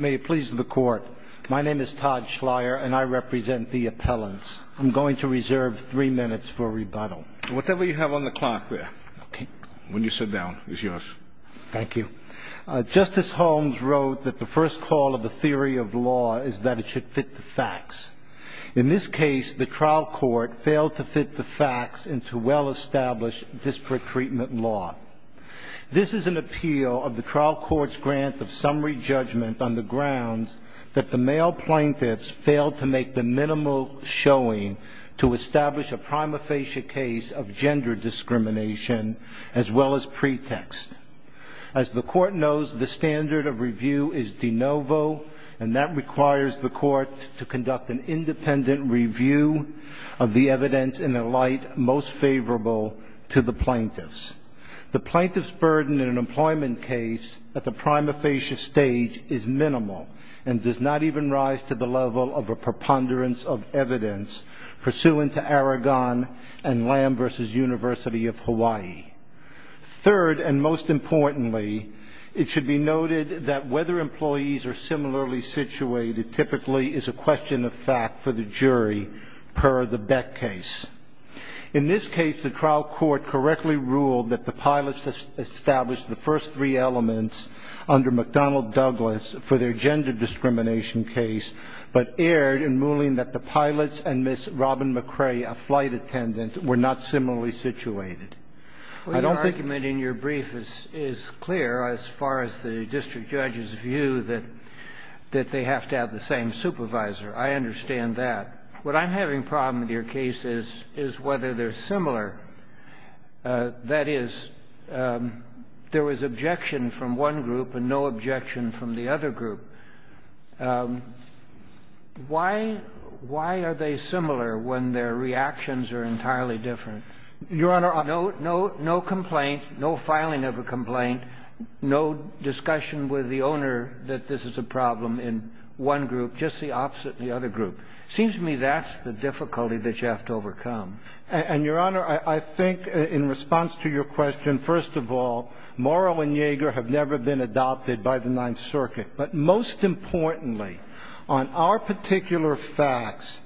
May it please the Court, my name is Todd Schleyer and I represent the appellants. I'm going to reserve three minutes for rebuttal. Whatever you have on the clock there, when you sit down, is yours. Thank you. Justice Holmes wrote that the first call of the theory of law is that it should fit the facts. In this case, the trial court failed to fit the facts into well-established district treatment law. This is an appeal of the trial court's grant of summary judgment on the grounds that the male plaintiffs failed to make the minimal showing to establish a prima facie case of gender discrimination as well as pretext. As the Court knows, the standard of review is de novo, and that requires the Court to conduct an independent review of the evidence in a light most favorable to the plaintiffs. The plaintiffs' burden in an employment case at the prima facie stage is minimal and does not even rise to the level of a preponderance of evidence pursuant to Aragon and Lamb v. University of Hawaii. Third, and most importantly, it should be noted that whether employees are similarly situated typically is a question of fact for the jury per the Beck case. In this case, the trial court correctly ruled that the pilots established the first three elements under McDonnell-Douglas for their gender discrimination case, but erred in ruling that the pilots and Ms. Robin McCrae, a flight attendant, were not similarly situated. I don't think... Well, your argument in your brief is clear as far as the district judge's view that they have to have the same supervisor. I understand that. What I'm having a problem with your case is whether they're similar. That is, there was objection from one group and no objection from the other group. Why are they similar when their reactions are entirely different? Your Honor, I... No complaint, no filing of a complaint, no discussion with the owner that this is a problem in one group, just the opposite in the other group. It seems to me that's the difficulty that you have to overcome. And, Your Honor, I think in response to your question, first of all, Morrow and Yeager have never been adopted by the Ninth Circuit. But most importantly, on our particular facts,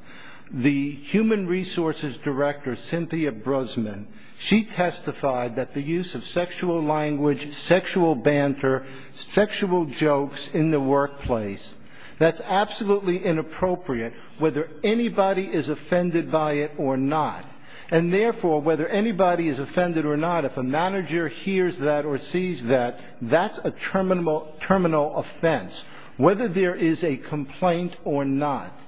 the human resources director, Cynthia Brosman, she testified that the use of sexual language, sexual banter, sexual jokes in the workplace, that's absolutely inappropriate whether anybody is offended by it or not. And, therefore, whether anybody is offended or not, if a manager hears that or sees that, that's a terminal offense, whether there is a complaint or not.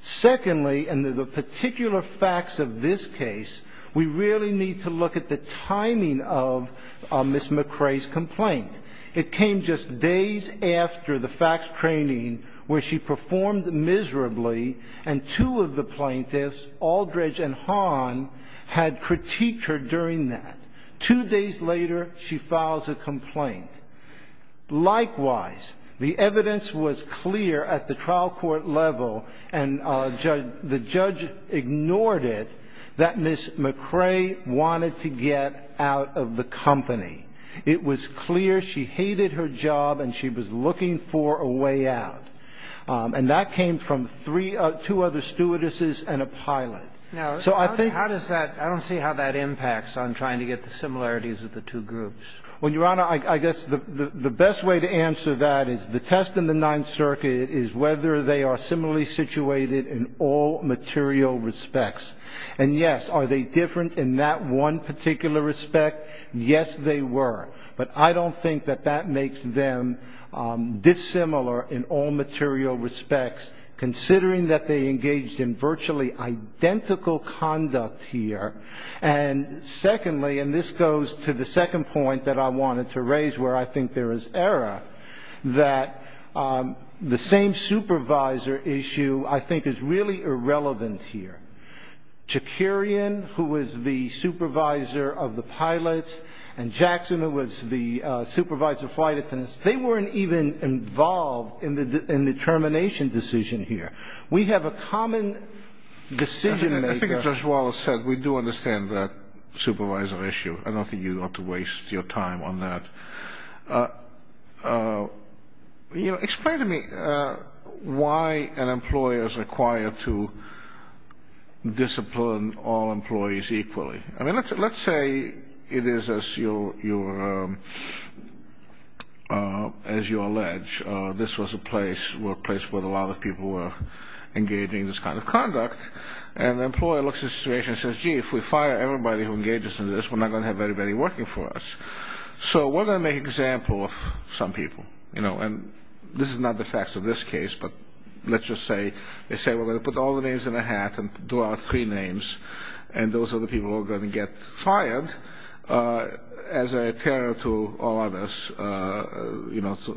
Secondly, in the particular facts of this case, we really need to look at the timing of Ms. McRae's complaint. It came just days after the facts training where she performed miserably, and two of the plaintiffs, Aldridge and Hahn, had critiqued her during that. Two days later, she files a complaint. Likewise, the evidence was clear at the trial court level, and the judge ignored it that Ms. McRae wanted to get out of the company. It was clear she hated her job and she was looking for a way out. And that came from three other ‑‑ two other stewardesses and a pilot. So I think ‑‑ I don't see how that impacts on trying to get the similarities of the two groups. Well, Your Honor, I guess the best way to answer that is the test in the Ninth Circuit is whether they are similarly situated in all material respects. And, yes, are they different in that one particular respect? Yes, they were. But I don't think that that makes them dissimilar in all material respects, considering that they engaged in virtually identical conduct here. And, secondly, and this goes to the second point that I wanted to raise where I think there is error, that the same supervisor issue I think is really irrelevant here. Jakirian, who was the supervisor of the pilots, and Jackson, who was the supervisor of flight attendants, they weren't even involved in the termination decision here. We have a common decision maker. I think as Judge Wallace said, we do understand that supervisor issue. I don't think you ought to waste your time on that. Explain to me why an employer is required to discipline all employees equally. I mean, let's say it is, as you allege, this was a place where a lot of people were engaging in this kind of conduct, and the employer looks at the situation and says, gee, if we fire everybody who engages in this, we're not going to have anybody working for us. So we're going to make an example of some people. And this is not the facts of this case, but let's just say, they say we're going to put all the names in a hat and draw out three names, and those are the people who are going to get fired as a terror to all others, because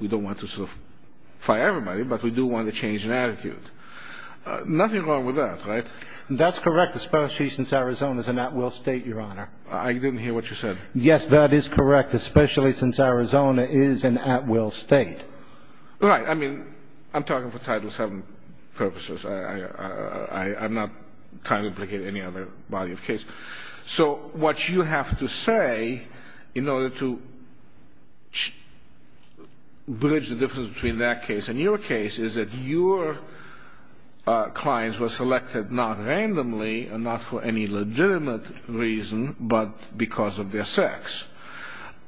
we don't want to fire everybody, but we do want to change an attitude. Nothing wrong with that, right? That's correct, especially since Arizona is an at-will state, Your Honor. I didn't hear what you said. Yes, that is correct, especially since Arizona is an at-will state. Right. I mean, I'm talking for Title VII purposes. I'm not trying to implicate any other body of case. So what you have to say in order to bridge the difference between that case and your case is that your clients were selected not randomly and not for any legitimate reason, but because of their sex.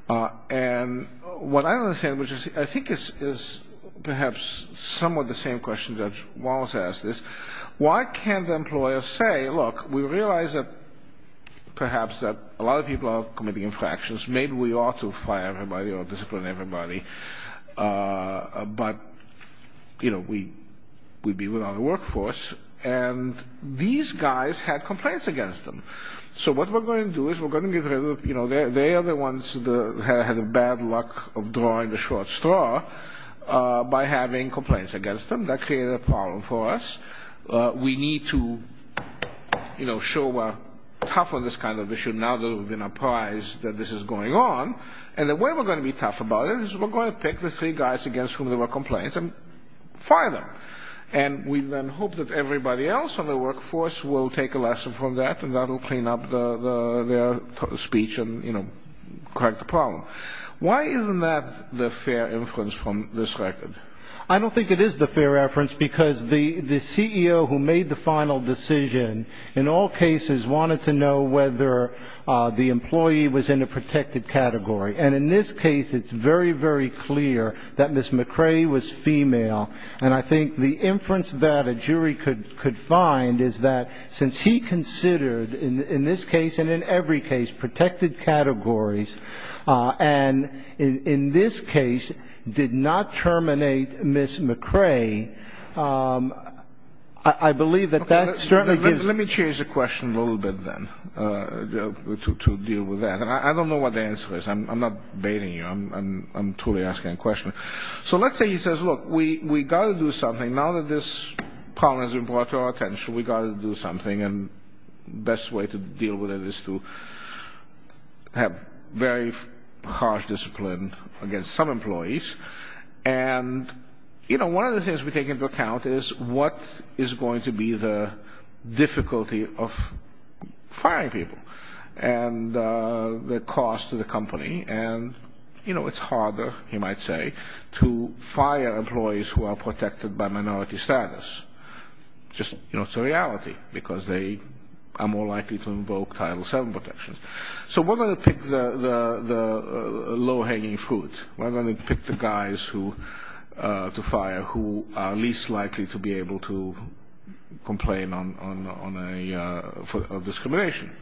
And what I understand, which I think is perhaps somewhat the same question Judge Wallace asked, is why can't the employer say, look, we realize that perhaps a lot of people are committing infractions, maybe we ought to fire everybody or discipline everybody, but, you know, we'd be without a workforce. And these guys had complaints against them. So what we're going to do is we're going to get rid of, you know, they are the ones that had the bad luck of drawing the short straw by having complaints against them. That created a problem for us. We need to, you know, show we're tough on this kind of issue now that we've been apprised that this is going on. And the way we're going to be tough about it is we're going to pick the three guys against whom there were complaints and fire them. And we then hope that everybody else in the workforce will take a lesson from that and that will clean up their speech and, you know, correct the problem. Why isn't that the fair inference from this record? I don't think it is the fair inference because the CEO who made the final decision in all cases wanted to know whether the employee was in a protected category. And in this case, it's very, very clear that Ms. McRae was female. And I think the inference that a jury could find is that since he considered in this case and in every case protected categories and in this case did not terminate Ms. McRae, I believe that that certainly gives. Let me change the question a little bit then to deal with that. And I don't know what the answer is. I'm not baiting you. I'm truly asking a question. So let's say he says, look, we've got to do something. Now that this problem has been brought to our attention, we've got to do something. And the best way to deal with it is to have very harsh discipline against some employees. And, you know, one of the things we take into account is what is going to be the difficulty of firing people and the cost to the company. And, you know, it's harder, you might say, to fire employees who are protected by minority status. Just, you know, it's a reality because they are more likely to invoke Title VII protections. So we're going to pick the low-hanging fruit. We're going to pick the guys to fire who are least likely to be able to complain of discrimination.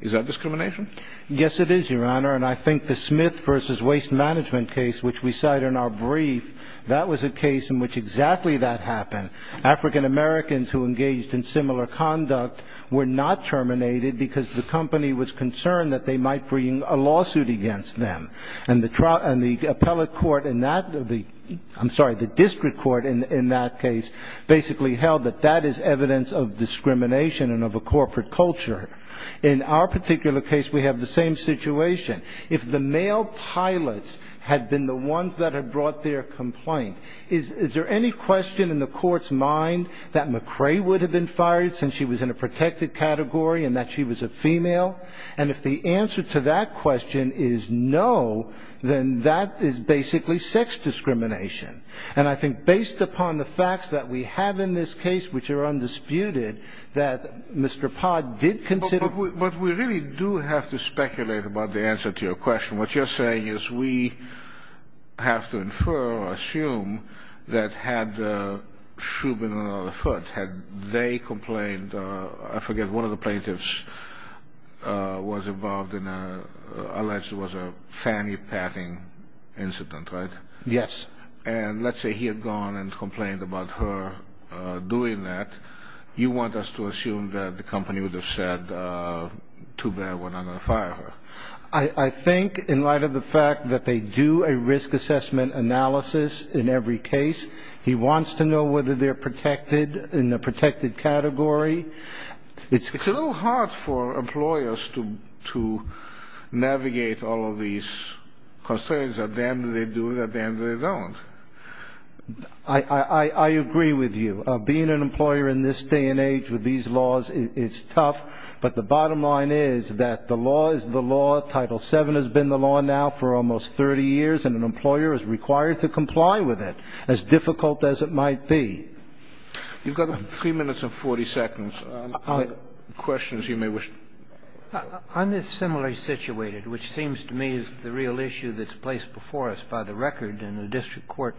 Is that discrimination? Yes, it is, Your Honor. And I think the Smith v. Waste Management case, which we cite in our brief, that was a case in which exactly that happened. African-Americans who engaged in similar conduct were not terminated because the company was concerned that they might bring a lawsuit against them. And the appellate court in that, I'm sorry, the district court in that case, basically held that that is evidence of discrimination and of a corporate culture. In our particular case, we have the same situation. If the male pilots had been the ones that had brought their complaint, is there any question in the court's mind that McRae would have been fired since she was in a protected category and that she was a female? And if the answer to that question is no, then that is basically sex discrimination. And I think based upon the facts that we have in this case, which are undisputed, that Mr. Pott did consider. But we really do have to speculate about the answer to your question. What you're saying is we have to infer or assume that had Shubin and another foot, had they complained, I forget, one of the plaintiffs was involved in an alleged fanny-patting incident, right? Yes. And let's say he had gone and complained about her doing that. You want us to assume that the company would have said, too bad, we're not going to fire her. I think in light of the fact that they do a risk assessment analysis in every case, he wants to know whether they're protected in the protected category. It's a little hard for employers to navigate all of these concerns. At the end of the day, they do. At the end of the day, they don't. I agree with you. Being an employer in this day and age with these laws, it's tough. But the bottom line is that the law is the law. Title VII has been the law now for almost 30 years, and an employer is required to comply with it, as difficult as it might be. You've got 3 minutes and 40 seconds. Questions you may wish to ask. On the similarly situated, which seems to me is the real issue that's placed before us by the record in the district court,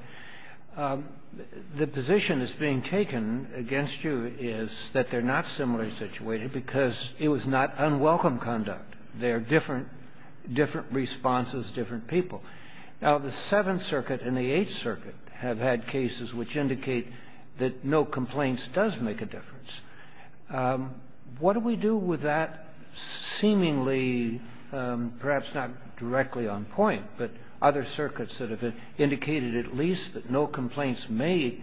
the position that's being taken against you is that they're not similarly situated because it was not unwelcome conduct. They are different responses, different people. Now, the Seventh Circuit and the Eighth Circuit have had cases which indicate that no complaints does make a difference. What do we do with that seemingly, perhaps not directly on point, but other circuits that have indicated at least that no complaints may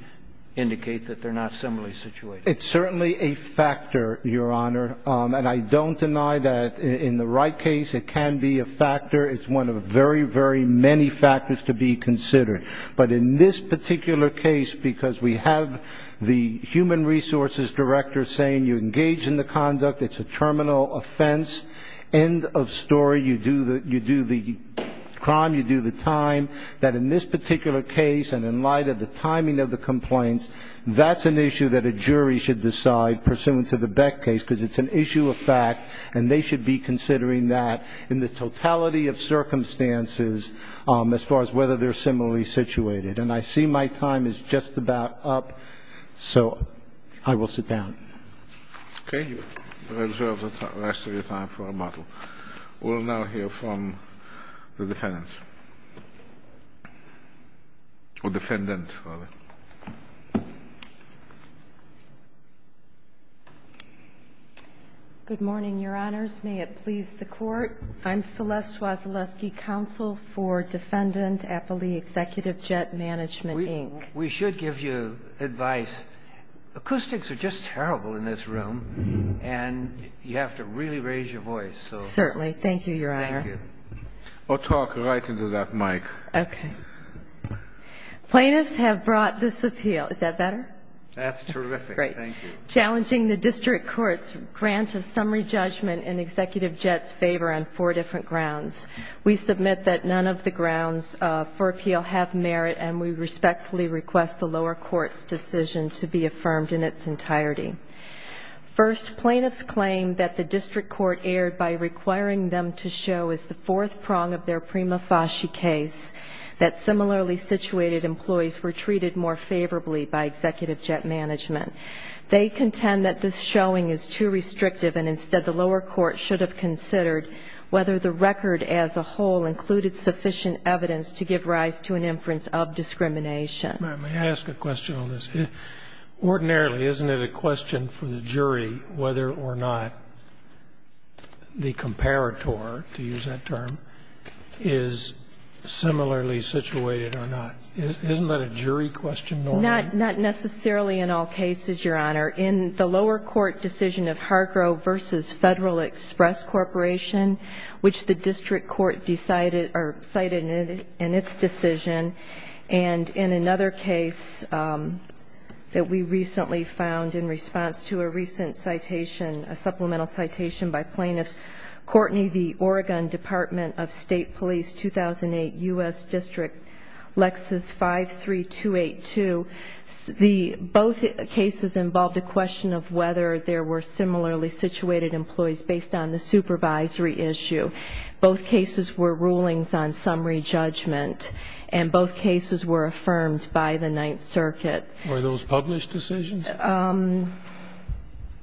indicate that they're not similarly situated? It's certainly a factor, Your Honor. And I don't deny that in the right case it can be a factor. It's one of very, very many factors to be considered. But in this particular case, because we have the human resources director saying you engage in the conduct, it's a terminal offense, end of story, you do the crime, you do the time, that in this particular case and in light of the timing of the complaints, that's an issue that a jury should decide pursuant to the Beck case because it's an issue of fact, and they should be considering that in the totality of circumstances as far as whether they're similarly situated. And I see my time is just about up, so I will sit down. Okay. You reserve the rest of your time for rebuttal. We'll now hear from the defendant. Or defendant, rather. Good morning, Your Honors. May it please the Court. I'm Celeste Wasilewski, Counsel for Defendant Applee Executive Jet Management, Inc. We should give you advice. Acoustics are just terrible in this room, and you have to really raise your voice. Certainly. Thank you, Your Honor. Thank you. Or talk right into that mic. Okay. Plaintiffs have brought this appeal. Is that better? That's terrific. Thank you. Challenging the district court's grant of summary judgment in Executive Jet's favor on four different grounds. We submit that none of the grounds for appeal have merit, and we respectfully request the lower court's decision to be affirmed in its entirety. First, plaintiffs claim that the district court erred by requiring them to show as the fourth prong of their prima facie case that similarly situated employees were treated more favorably by Executive Jet Management. They contend that this showing is too restrictive, and instead the lower court should have considered whether the record as a whole included sufficient evidence to give rise to an inference of discrimination. May I ask a question on this? Ordinarily, isn't it a question for the jury whether or not the comparator, to use that term, is similarly situated or not? Isn't that a jury question normally? Not necessarily in all cases, Your Honor. In the lower court decision of Hargrove v. Federal Express Corporation, which the district court decided or cited in its decision, and in another case that we recently found in response to a recent citation, a supplemental citation by plaintiffs, Courtney v. Oregon Department of State Police, 2008, U.S. District, Lexus 53282, both cases involved a question of whether there were similarly situated employees based on the supervisory issue. Both cases were rulings on summary judgment, and both cases were affirmed by the Ninth Circuit. Were those published decisions?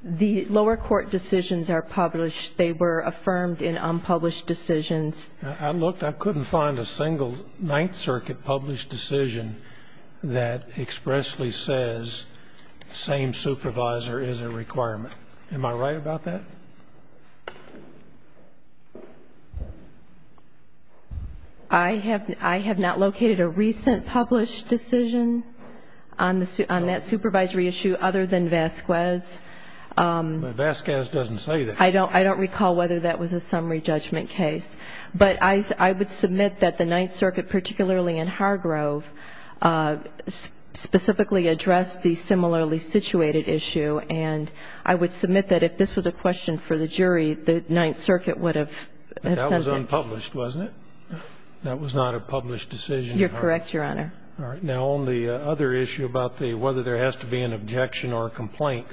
The lower court decisions are published. They were affirmed in unpublished decisions. I looked. I couldn't find a single Ninth Circuit published decision that expressly says same supervisor is a requirement. Am I right about that? I have not located a recent published decision on that supervisory issue other than Vasquez. Vasquez doesn't say that. I don't recall whether that was a summary judgment case. But I would submit that the Ninth Circuit, particularly in Hargrove, specifically addressed the similarly situated issue, and I would submit that if this was a question for the jury, the Ninth Circuit would have sent it. But that was unpublished, wasn't it? That was not a published decision. You're correct, Your Honor. All right. Now, on the other issue about whether there has to be an objection or a complaint,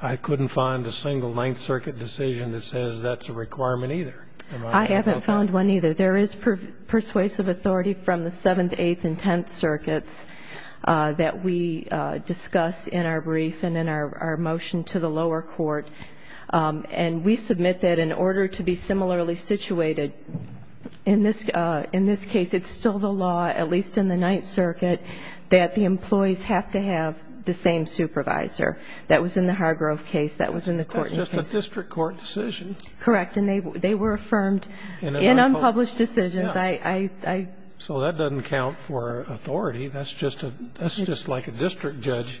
I couldn't find a single Ninth Circuit decision that says that's a requirement either. I haven't found one either. There is persuasive authority from the Seventh, Eighth, and Tenth Circuits that we discuss in our brief and in our motion to the lower court. And we submit that in order to be similarly situated in this case, it's still the law, at least in the Ninth Circuit, that the employees have to have the same supervisor. That was in the Hargrove case. That was in the court instance. That's just a district court decision. Correct. And they were affirmed in unpublished decisions. So that doesn't count for authority. That's just like a district judge.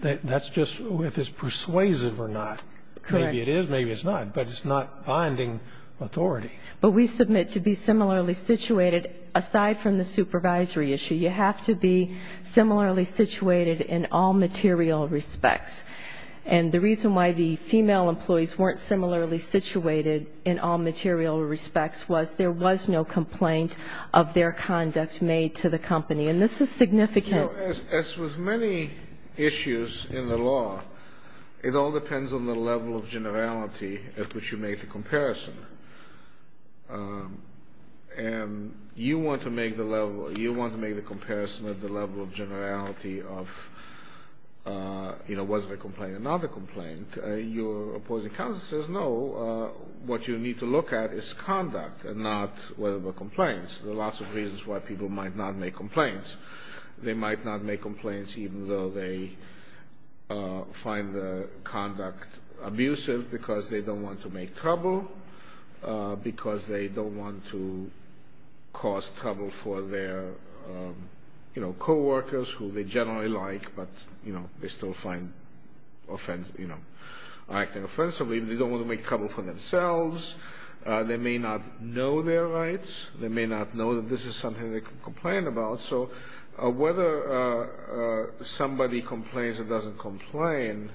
That's just if it's persuasive or not. Correct. Maybe it is, maybe it's not. But it's not binding authority. But we submit to be similarly situated. Aside from the supervisory issue, you have to be similarly situated in all material respects. And the reason why the female employees weren't similarly situated in all material respects was there was no complaint of their conduct made to the company. And this is significant. You know, as with many issues in the law, it all depends on the level of generality at which you make the comparison. And you want to make the comparison at the level of generality of, you know, was there a complaint or not a complaint. Your opposing counsel says, no, what you need to look at is conduct and not whether there were complaints. There are lots of reasons why people might not make complaints. They might not make complaints even though they find the conduct abusive because they don't want to make trouble, because they don't want to cause trouble for their, you know, co-workers, who they generally like but, you know, they still find, you know, acting offensively. They don't want to make trouble for themselves. They may not know their rights. They may not know that this is something they can complain about. So whether somebody complains or doesn't complain,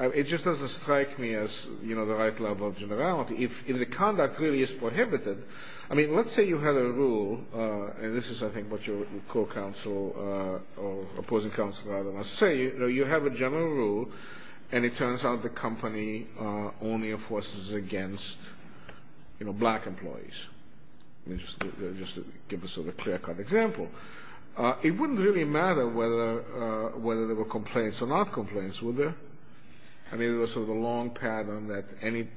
it just doesn't strike me as, you know, the right level of generality. If the conduct really is prohibited, I mean, let's say you had a rule, and this is, I think, what your co-counsel or opposing counsel rather must say, you know, you have a general rule, and it turns out the company only enforces against, you know, black employees. Let me just give a sort of clear-cut example. It wouldn't really matter whether there were complaints or not complaints, would there? I mean, there was sort of a long pattern that any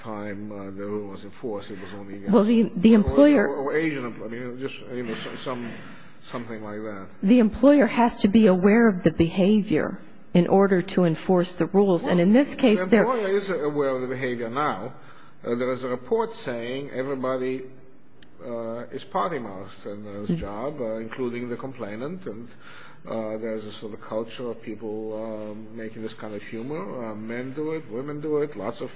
time the rule was enforced, it was only, you know, Asian employees, you know, just, you know, something like that. The employer has to be aware of the behavior in order to enforce the rules, and in this case they're... Well, the employer is aware of the behavior now. There was a report saying everybody is party mouse in this job, including the complainant, and there's a sort of culture of people making this kind of humor. Men do it. Women do it. Lots of...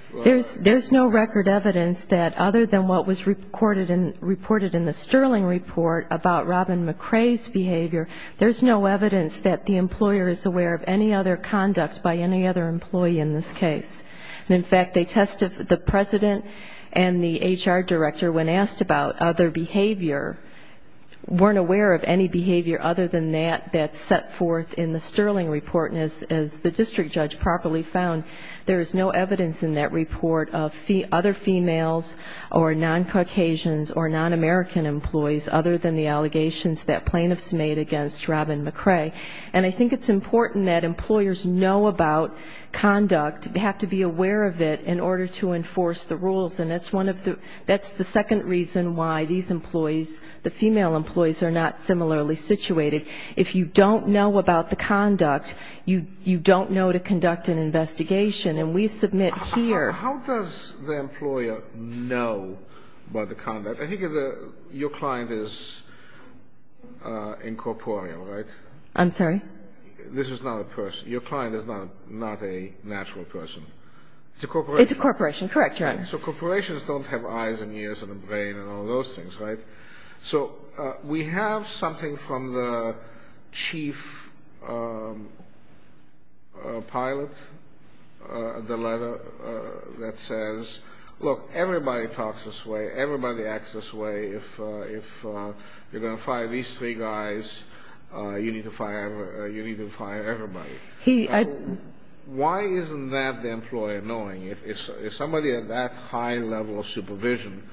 There's no record evidence that other than what was recorded and reported in the Sterling report about Robin McRae's behavior, there's no evidence that the employer is aware of any other conduct by any other employee in this case. And, in fact, they testified... The president and the HR director, when asked about other behavior, weren't aware of any behavior other than that that's set forth in the Sterling report, and as the district judge properly found, there's no evidence in that report of other females or non-Caucasians or non-American employees other than the allegations that plaintiffs made against Robin McRae. And I think it's important that employers know about conduct, have to be aware of it, in order to enforce the rules. And that's one of the... That's the second reason why these employees, the female employees, are not similarly situated. If you don't know about the conduct, you don't know to conduct an investigation. And we submit here... How does the employer know about the conduct? I think your client is incorporeal, right? I'm sorry? This is not a person. Your client is not a natural person. It's a corporation. It's a corporation. Correct, Your Honor. So corporations don't have eyes and ears and a brain and all those things, right? So we have something from the chief pilot, the letter that says, look, everybody talks this way, everybody acts this way. If you're going to fire these three guys, you need to fire everybody. Why isn't that the employer knowing? If somebody at that high level of supervision,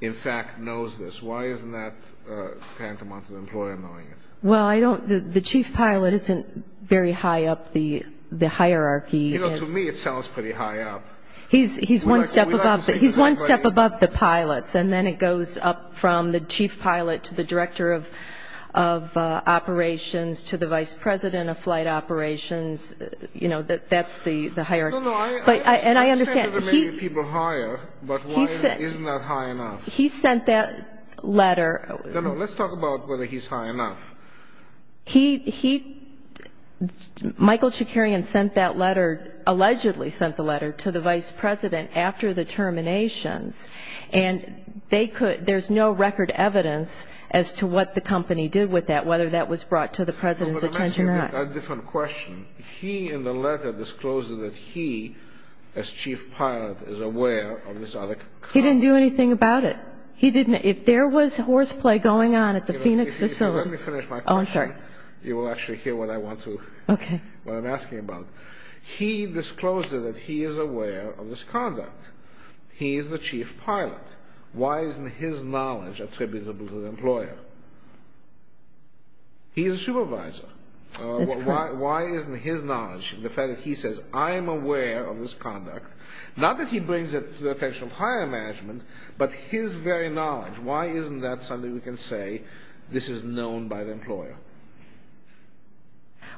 in fact, knows this, why isn't that tantamount to the employer knowing it? Well, I don't... The chief pilot isn't very high up the hierarchy. You know, to me it sounds pretty high up. He's one step above the pilots. And then it goes up from the chief pilot to the director of operations to the vice president of flight operations. You know, that's the hierarchy. No, no. I understand that there may be people higher, but why isn't that high enough? He sent that letter. No, no. Let's talk about whether he's high enough. He, Michael Chikarian sent that letter, allegedly sent the letter to the vice president after the terminations. And there's no record evidence as to what the company did with that, whether that was brought to the president's attention or not. I'm asking a different question. He, in the letter, disclosed that he, as chief pilot, is aware of this other conduct. He didn't do anything about it. If there was horseplay going on at the Phoenix facility... Let me finish my question. Oh, I'm sorry. You will actually hear what I want to, what I'm asking about. He disclosed that he is aware of this conduct. He is the chief pilot. Why isn't his knowledge attributable to the employer? He is a supervisor. That's correct. Why isn't his knowledge? The fact that he says, I am aware of this conduct. Not that he brings it to the attention of higher management, but his very knowledge.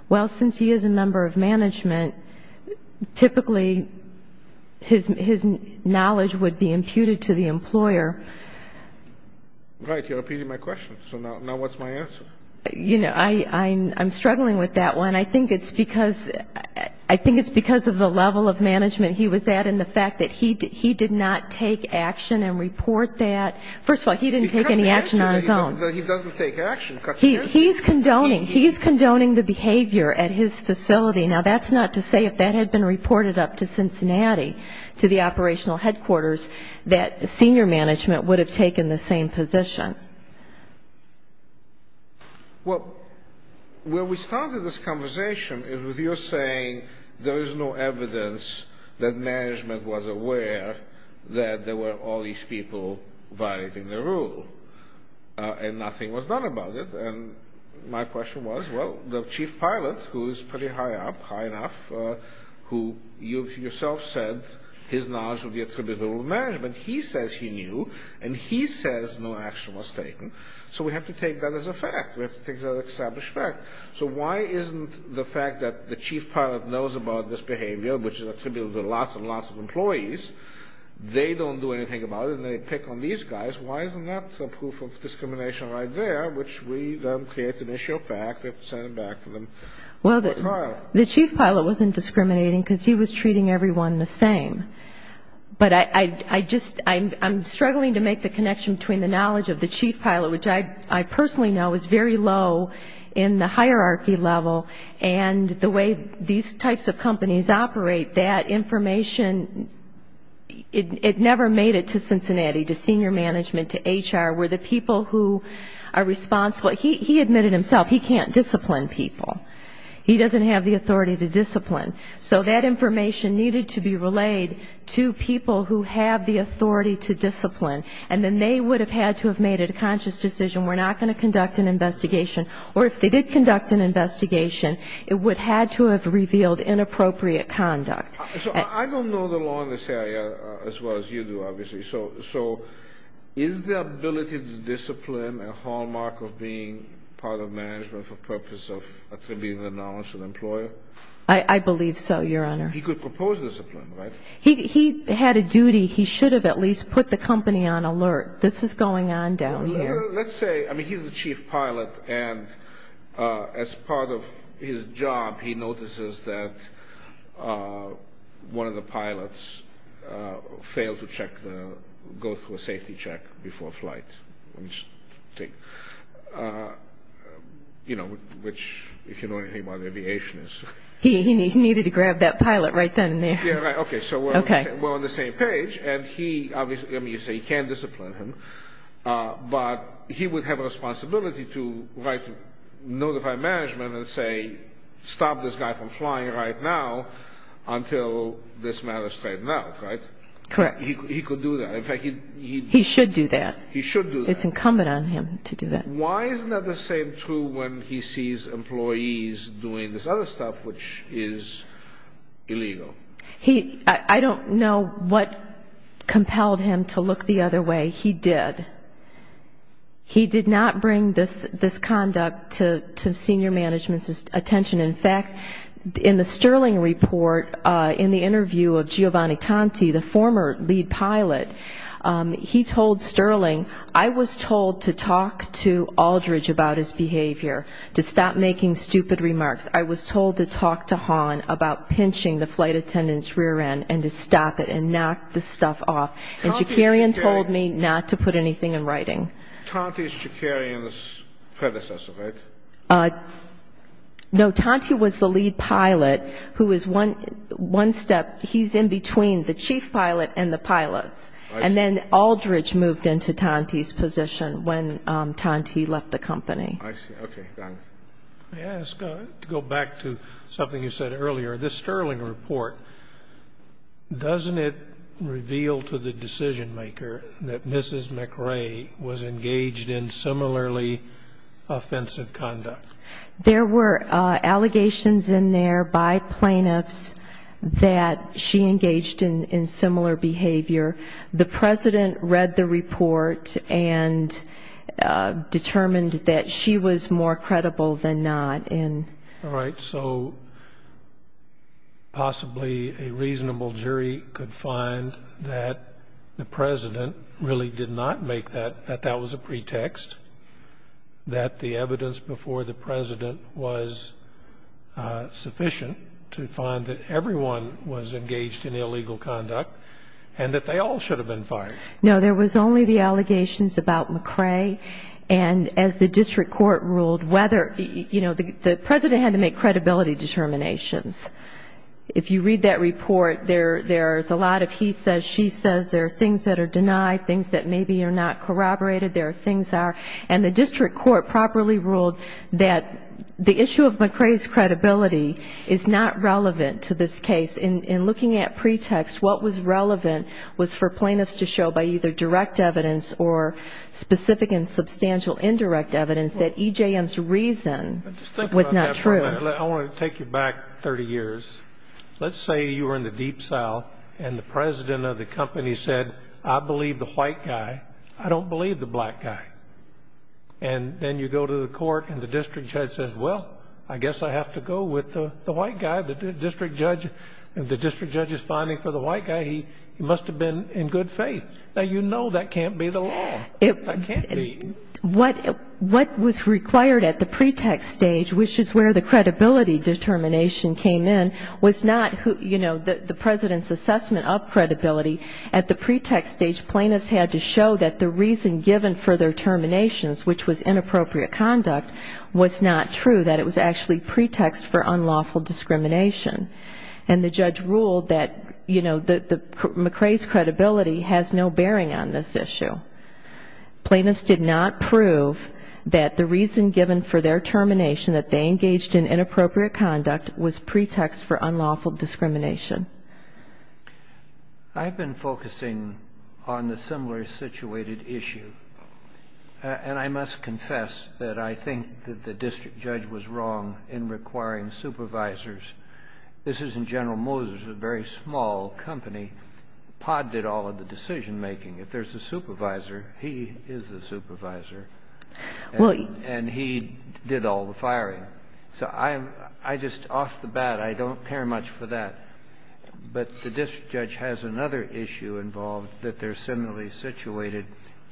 Well, since he is a member of management, typically his knowledge would be imputed to the employer. Right. You're repeating my question. So now what's my answer? You know, I'm struggling with that one. I think it's because of the level of management he was at and the fact that he did not take action and report that. First of all, he didn't take any action on his own. He doesn't take action. He's condoning. He's condoning the behavior at his facility. Now, that's not to say if that had been reported up to Cincinnati, to the operational headquarters, that senior management would have taken the same position. Well, where we started this conversation is with you saying there is no evidence that management was aware that there were all these people violating the rule. And nothing was done about it. And my question was, well, the chief pilot, who is pretty high up, high enough, who you yourself said his knowledge would be attributed to management. He says he knew, and he says no action was taken. So we have to take that as a fact. We have to take that as an established fact. So why isn't the fact that the chief pilot knows about this behavior, which is attributed to lots and lots of employees, they don't do anything about it, and they pick on these guys. Why isn't that proof of discrimination right there, which we then say it's an issue of fact. We have to send it back to them. Well, the chief pilot wasn't discriminating because he was treating everyone the same. But I'm struggling to make the connection between the knowledge of the chief pilot, which I personally know is very low in the hierarchy level, and the way these types of companies operate, that information, it never made it to Cincinnati, to senior management, to HR, where the people who are responsible. He admitted himself he can't discipline people. He doesn't have the authority to discipline. So that information needed to be relayed to people who have the authority to discipline. And then they would have had to have made a conscious decision, we're not going to conduct an investigation. Or if they did conduct an investigation, it would have had to have revealed inappropriate conduct. So I don't know the law in this area as well as you do, obviously. So is the ability to discipline a hallmark of being part of management for the purpose of attributing the knowledge to the employer? I believe so, Your Honor. He could propose discipline, right? He had a duty. He should have at least put the company on alert. This is going on down here. Let's say, I mean, he's the chief pilot, and as part of his job, he notices that one of the pilots failed to go through a safety check before flight. You know, which, if you know anything about aviation. He needed to grab that pilot right then and there. Okay, so we're on the same page. I mean, you say he can't discipline him, but he would have a responsibility to notify management and say, stop this guy from flying right now until this matter is straightened out, right? Correct. He could do that. He should do that. He should do that. It's incumbent on him to do that. Why isn't that the same true when he sees employees doing this other stuff, which is illegal? I don't know what compelled him to look the other way. He did. He did not bring this conduct to senior management's attention. In fact, in the Sterling report, in the interview of Giovanni Tanti, the former lead pilot, he told Sterling, I was told to talk to Aldridge about his behavior, to stop making stupid remarks. I was told to talk to Hahn about pinching the flight attendant's rear end and to stop it and knock the stuff off. And Chikarian told me not to put anything in writing. Tanti is Chikarian's predecessor, right? No, Tanti was the lead pilot, who is one step, he's in between the chief pilot and the pilots. And then Aldridge moved into Tanti's position when Tanti left the company. I see. Okay. Thank you, Your Honor. May I ask, to go back to something you said earlier, this Sterling report, doesn't it reveal to the decision-maker that Mrs. McRae was engaged in similarly offensive conduct? There were allegations in there by plaintiffs that she engaged in similar behavior. The President read the report and determined that she was more credible than not. All right. So possibly a reasonable jury could find that the President really did not make that, that that was a pretext, that the evidence before the President was sufficient to find that everyone was engaged in illegal conduct and that they all should have been fired. No, there was only the allegations about McRae. And as the district court ruled, whether, you know, the President had to make credibility determinations. If you read that report, there's a lot of he says, she says, there are things that are denied, things that maybe are not corroborated, there are things that are. And the district court properly ruled that the issue of McRae's credibility is not relevant to this case. In looking at pretext, what was relevant was for plaintiffs to show by either direct evidence or specific and substantial indirect evidence that EJM's reason was not true. I want to take you back 30 years. Let's say you were in the deep south and the President of the company said, I believe the white guy. I don't believe the black guy. And then you go to the court and the district judge says, well, I guess I have to go with the white guy. The district judge is finding for the white guy he must have been in good faith. Now, you know that can't be the law. That can't be. What was required at the pretext stage, which is where the credibility determination came in, was not, you know, the President's assessment of credibility. At the pretext stage, plaintiffs had to show that the reason given for their terminations, which was inappropriate conduct, was not true, that it was actually pretext for unlawful discrimination. And the judge ruled that, you know, McRae's credibility has no bearing on this issue. Plaintiffs did not prove that the reason given for their termination, that they engaged in inappropriate conduct, was pretext for unlawful discrimination. I've been focusing on the similar situated issue. And I must confess that I think that the district judge was wrong in requiring supervisors. This is in General Moses, a very small company. POD did all of the decision-making. If there's a supervisor, he is the supervisor. And he did all the firing. So I'm just off the bat. I don't care much for that. But the district judge has another issue involved, that they're similarly situated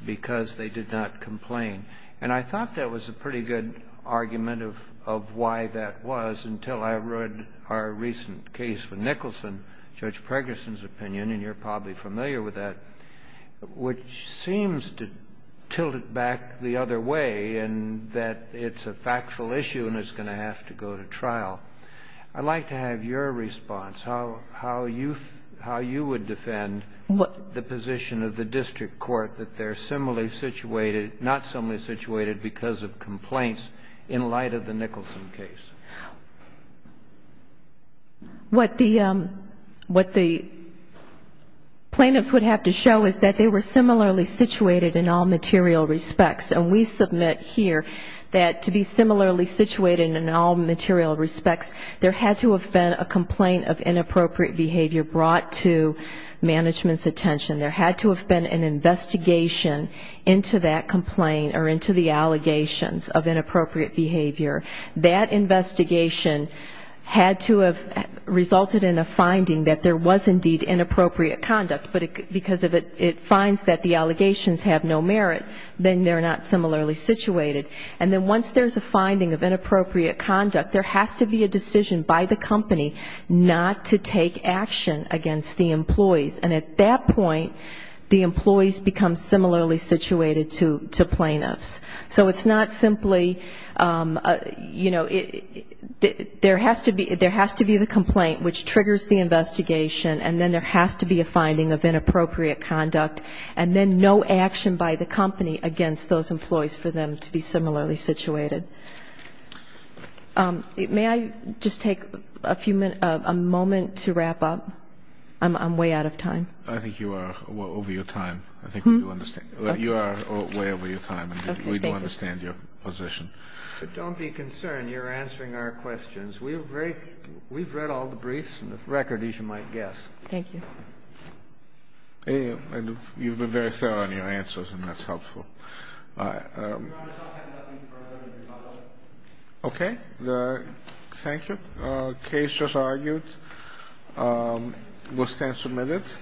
because they did not complain. And I thought that was a pretty good argument of why that was until I read our recent case with Nicholson, Judge Pregerson's opinion, and you're probably familiar with that, which seems to tilt it back the other way in that it's a factual issue and it's going to have to go to trial. I'd like to have your response, how you would defend the position of the district court, that they're not similarly situated because of complaints in light of the Nicholson case. What the plaintiffs would have to show is that they were similarly situated in all material respects. And we submit here that to be similarly situated in all material respects, there had to have been a complaint of inappropriate behavior brought to management's attention. There had to have been an investigation into that complaint or into the allegations of inappropriate behavior. That investigation had to have resulted in a finding that there was indeed inappropriate conduct. But because it finds that the allegations have no merit, then they're not similarly situated. And then once there's a finding of inappropriate conduct, there has to be a decision by the company not to take action against the employees. And at that point, the employees become similarly situated to plaintiffs. So it's not simply, you know, there has to be the complaint, which triggers the investigation, and then there has to be a finding of inappropriate conduct, and then no action by the company against those employees for them to be similarly situated. May I just take a few minutes, a moment to wrap up? I'm way out of time. I think you are over your time. I think we do understand. You are way over your time, and we do understand your position. But don't be concerned. You're answering our questions. We've read all the briefs and the record, as you might guess. Thank you. You've been very thorough in your answers, and that's helpful. Your Honor, I'll have nothing further to follow. Okay. Thank you. The case just argued will stand submitted.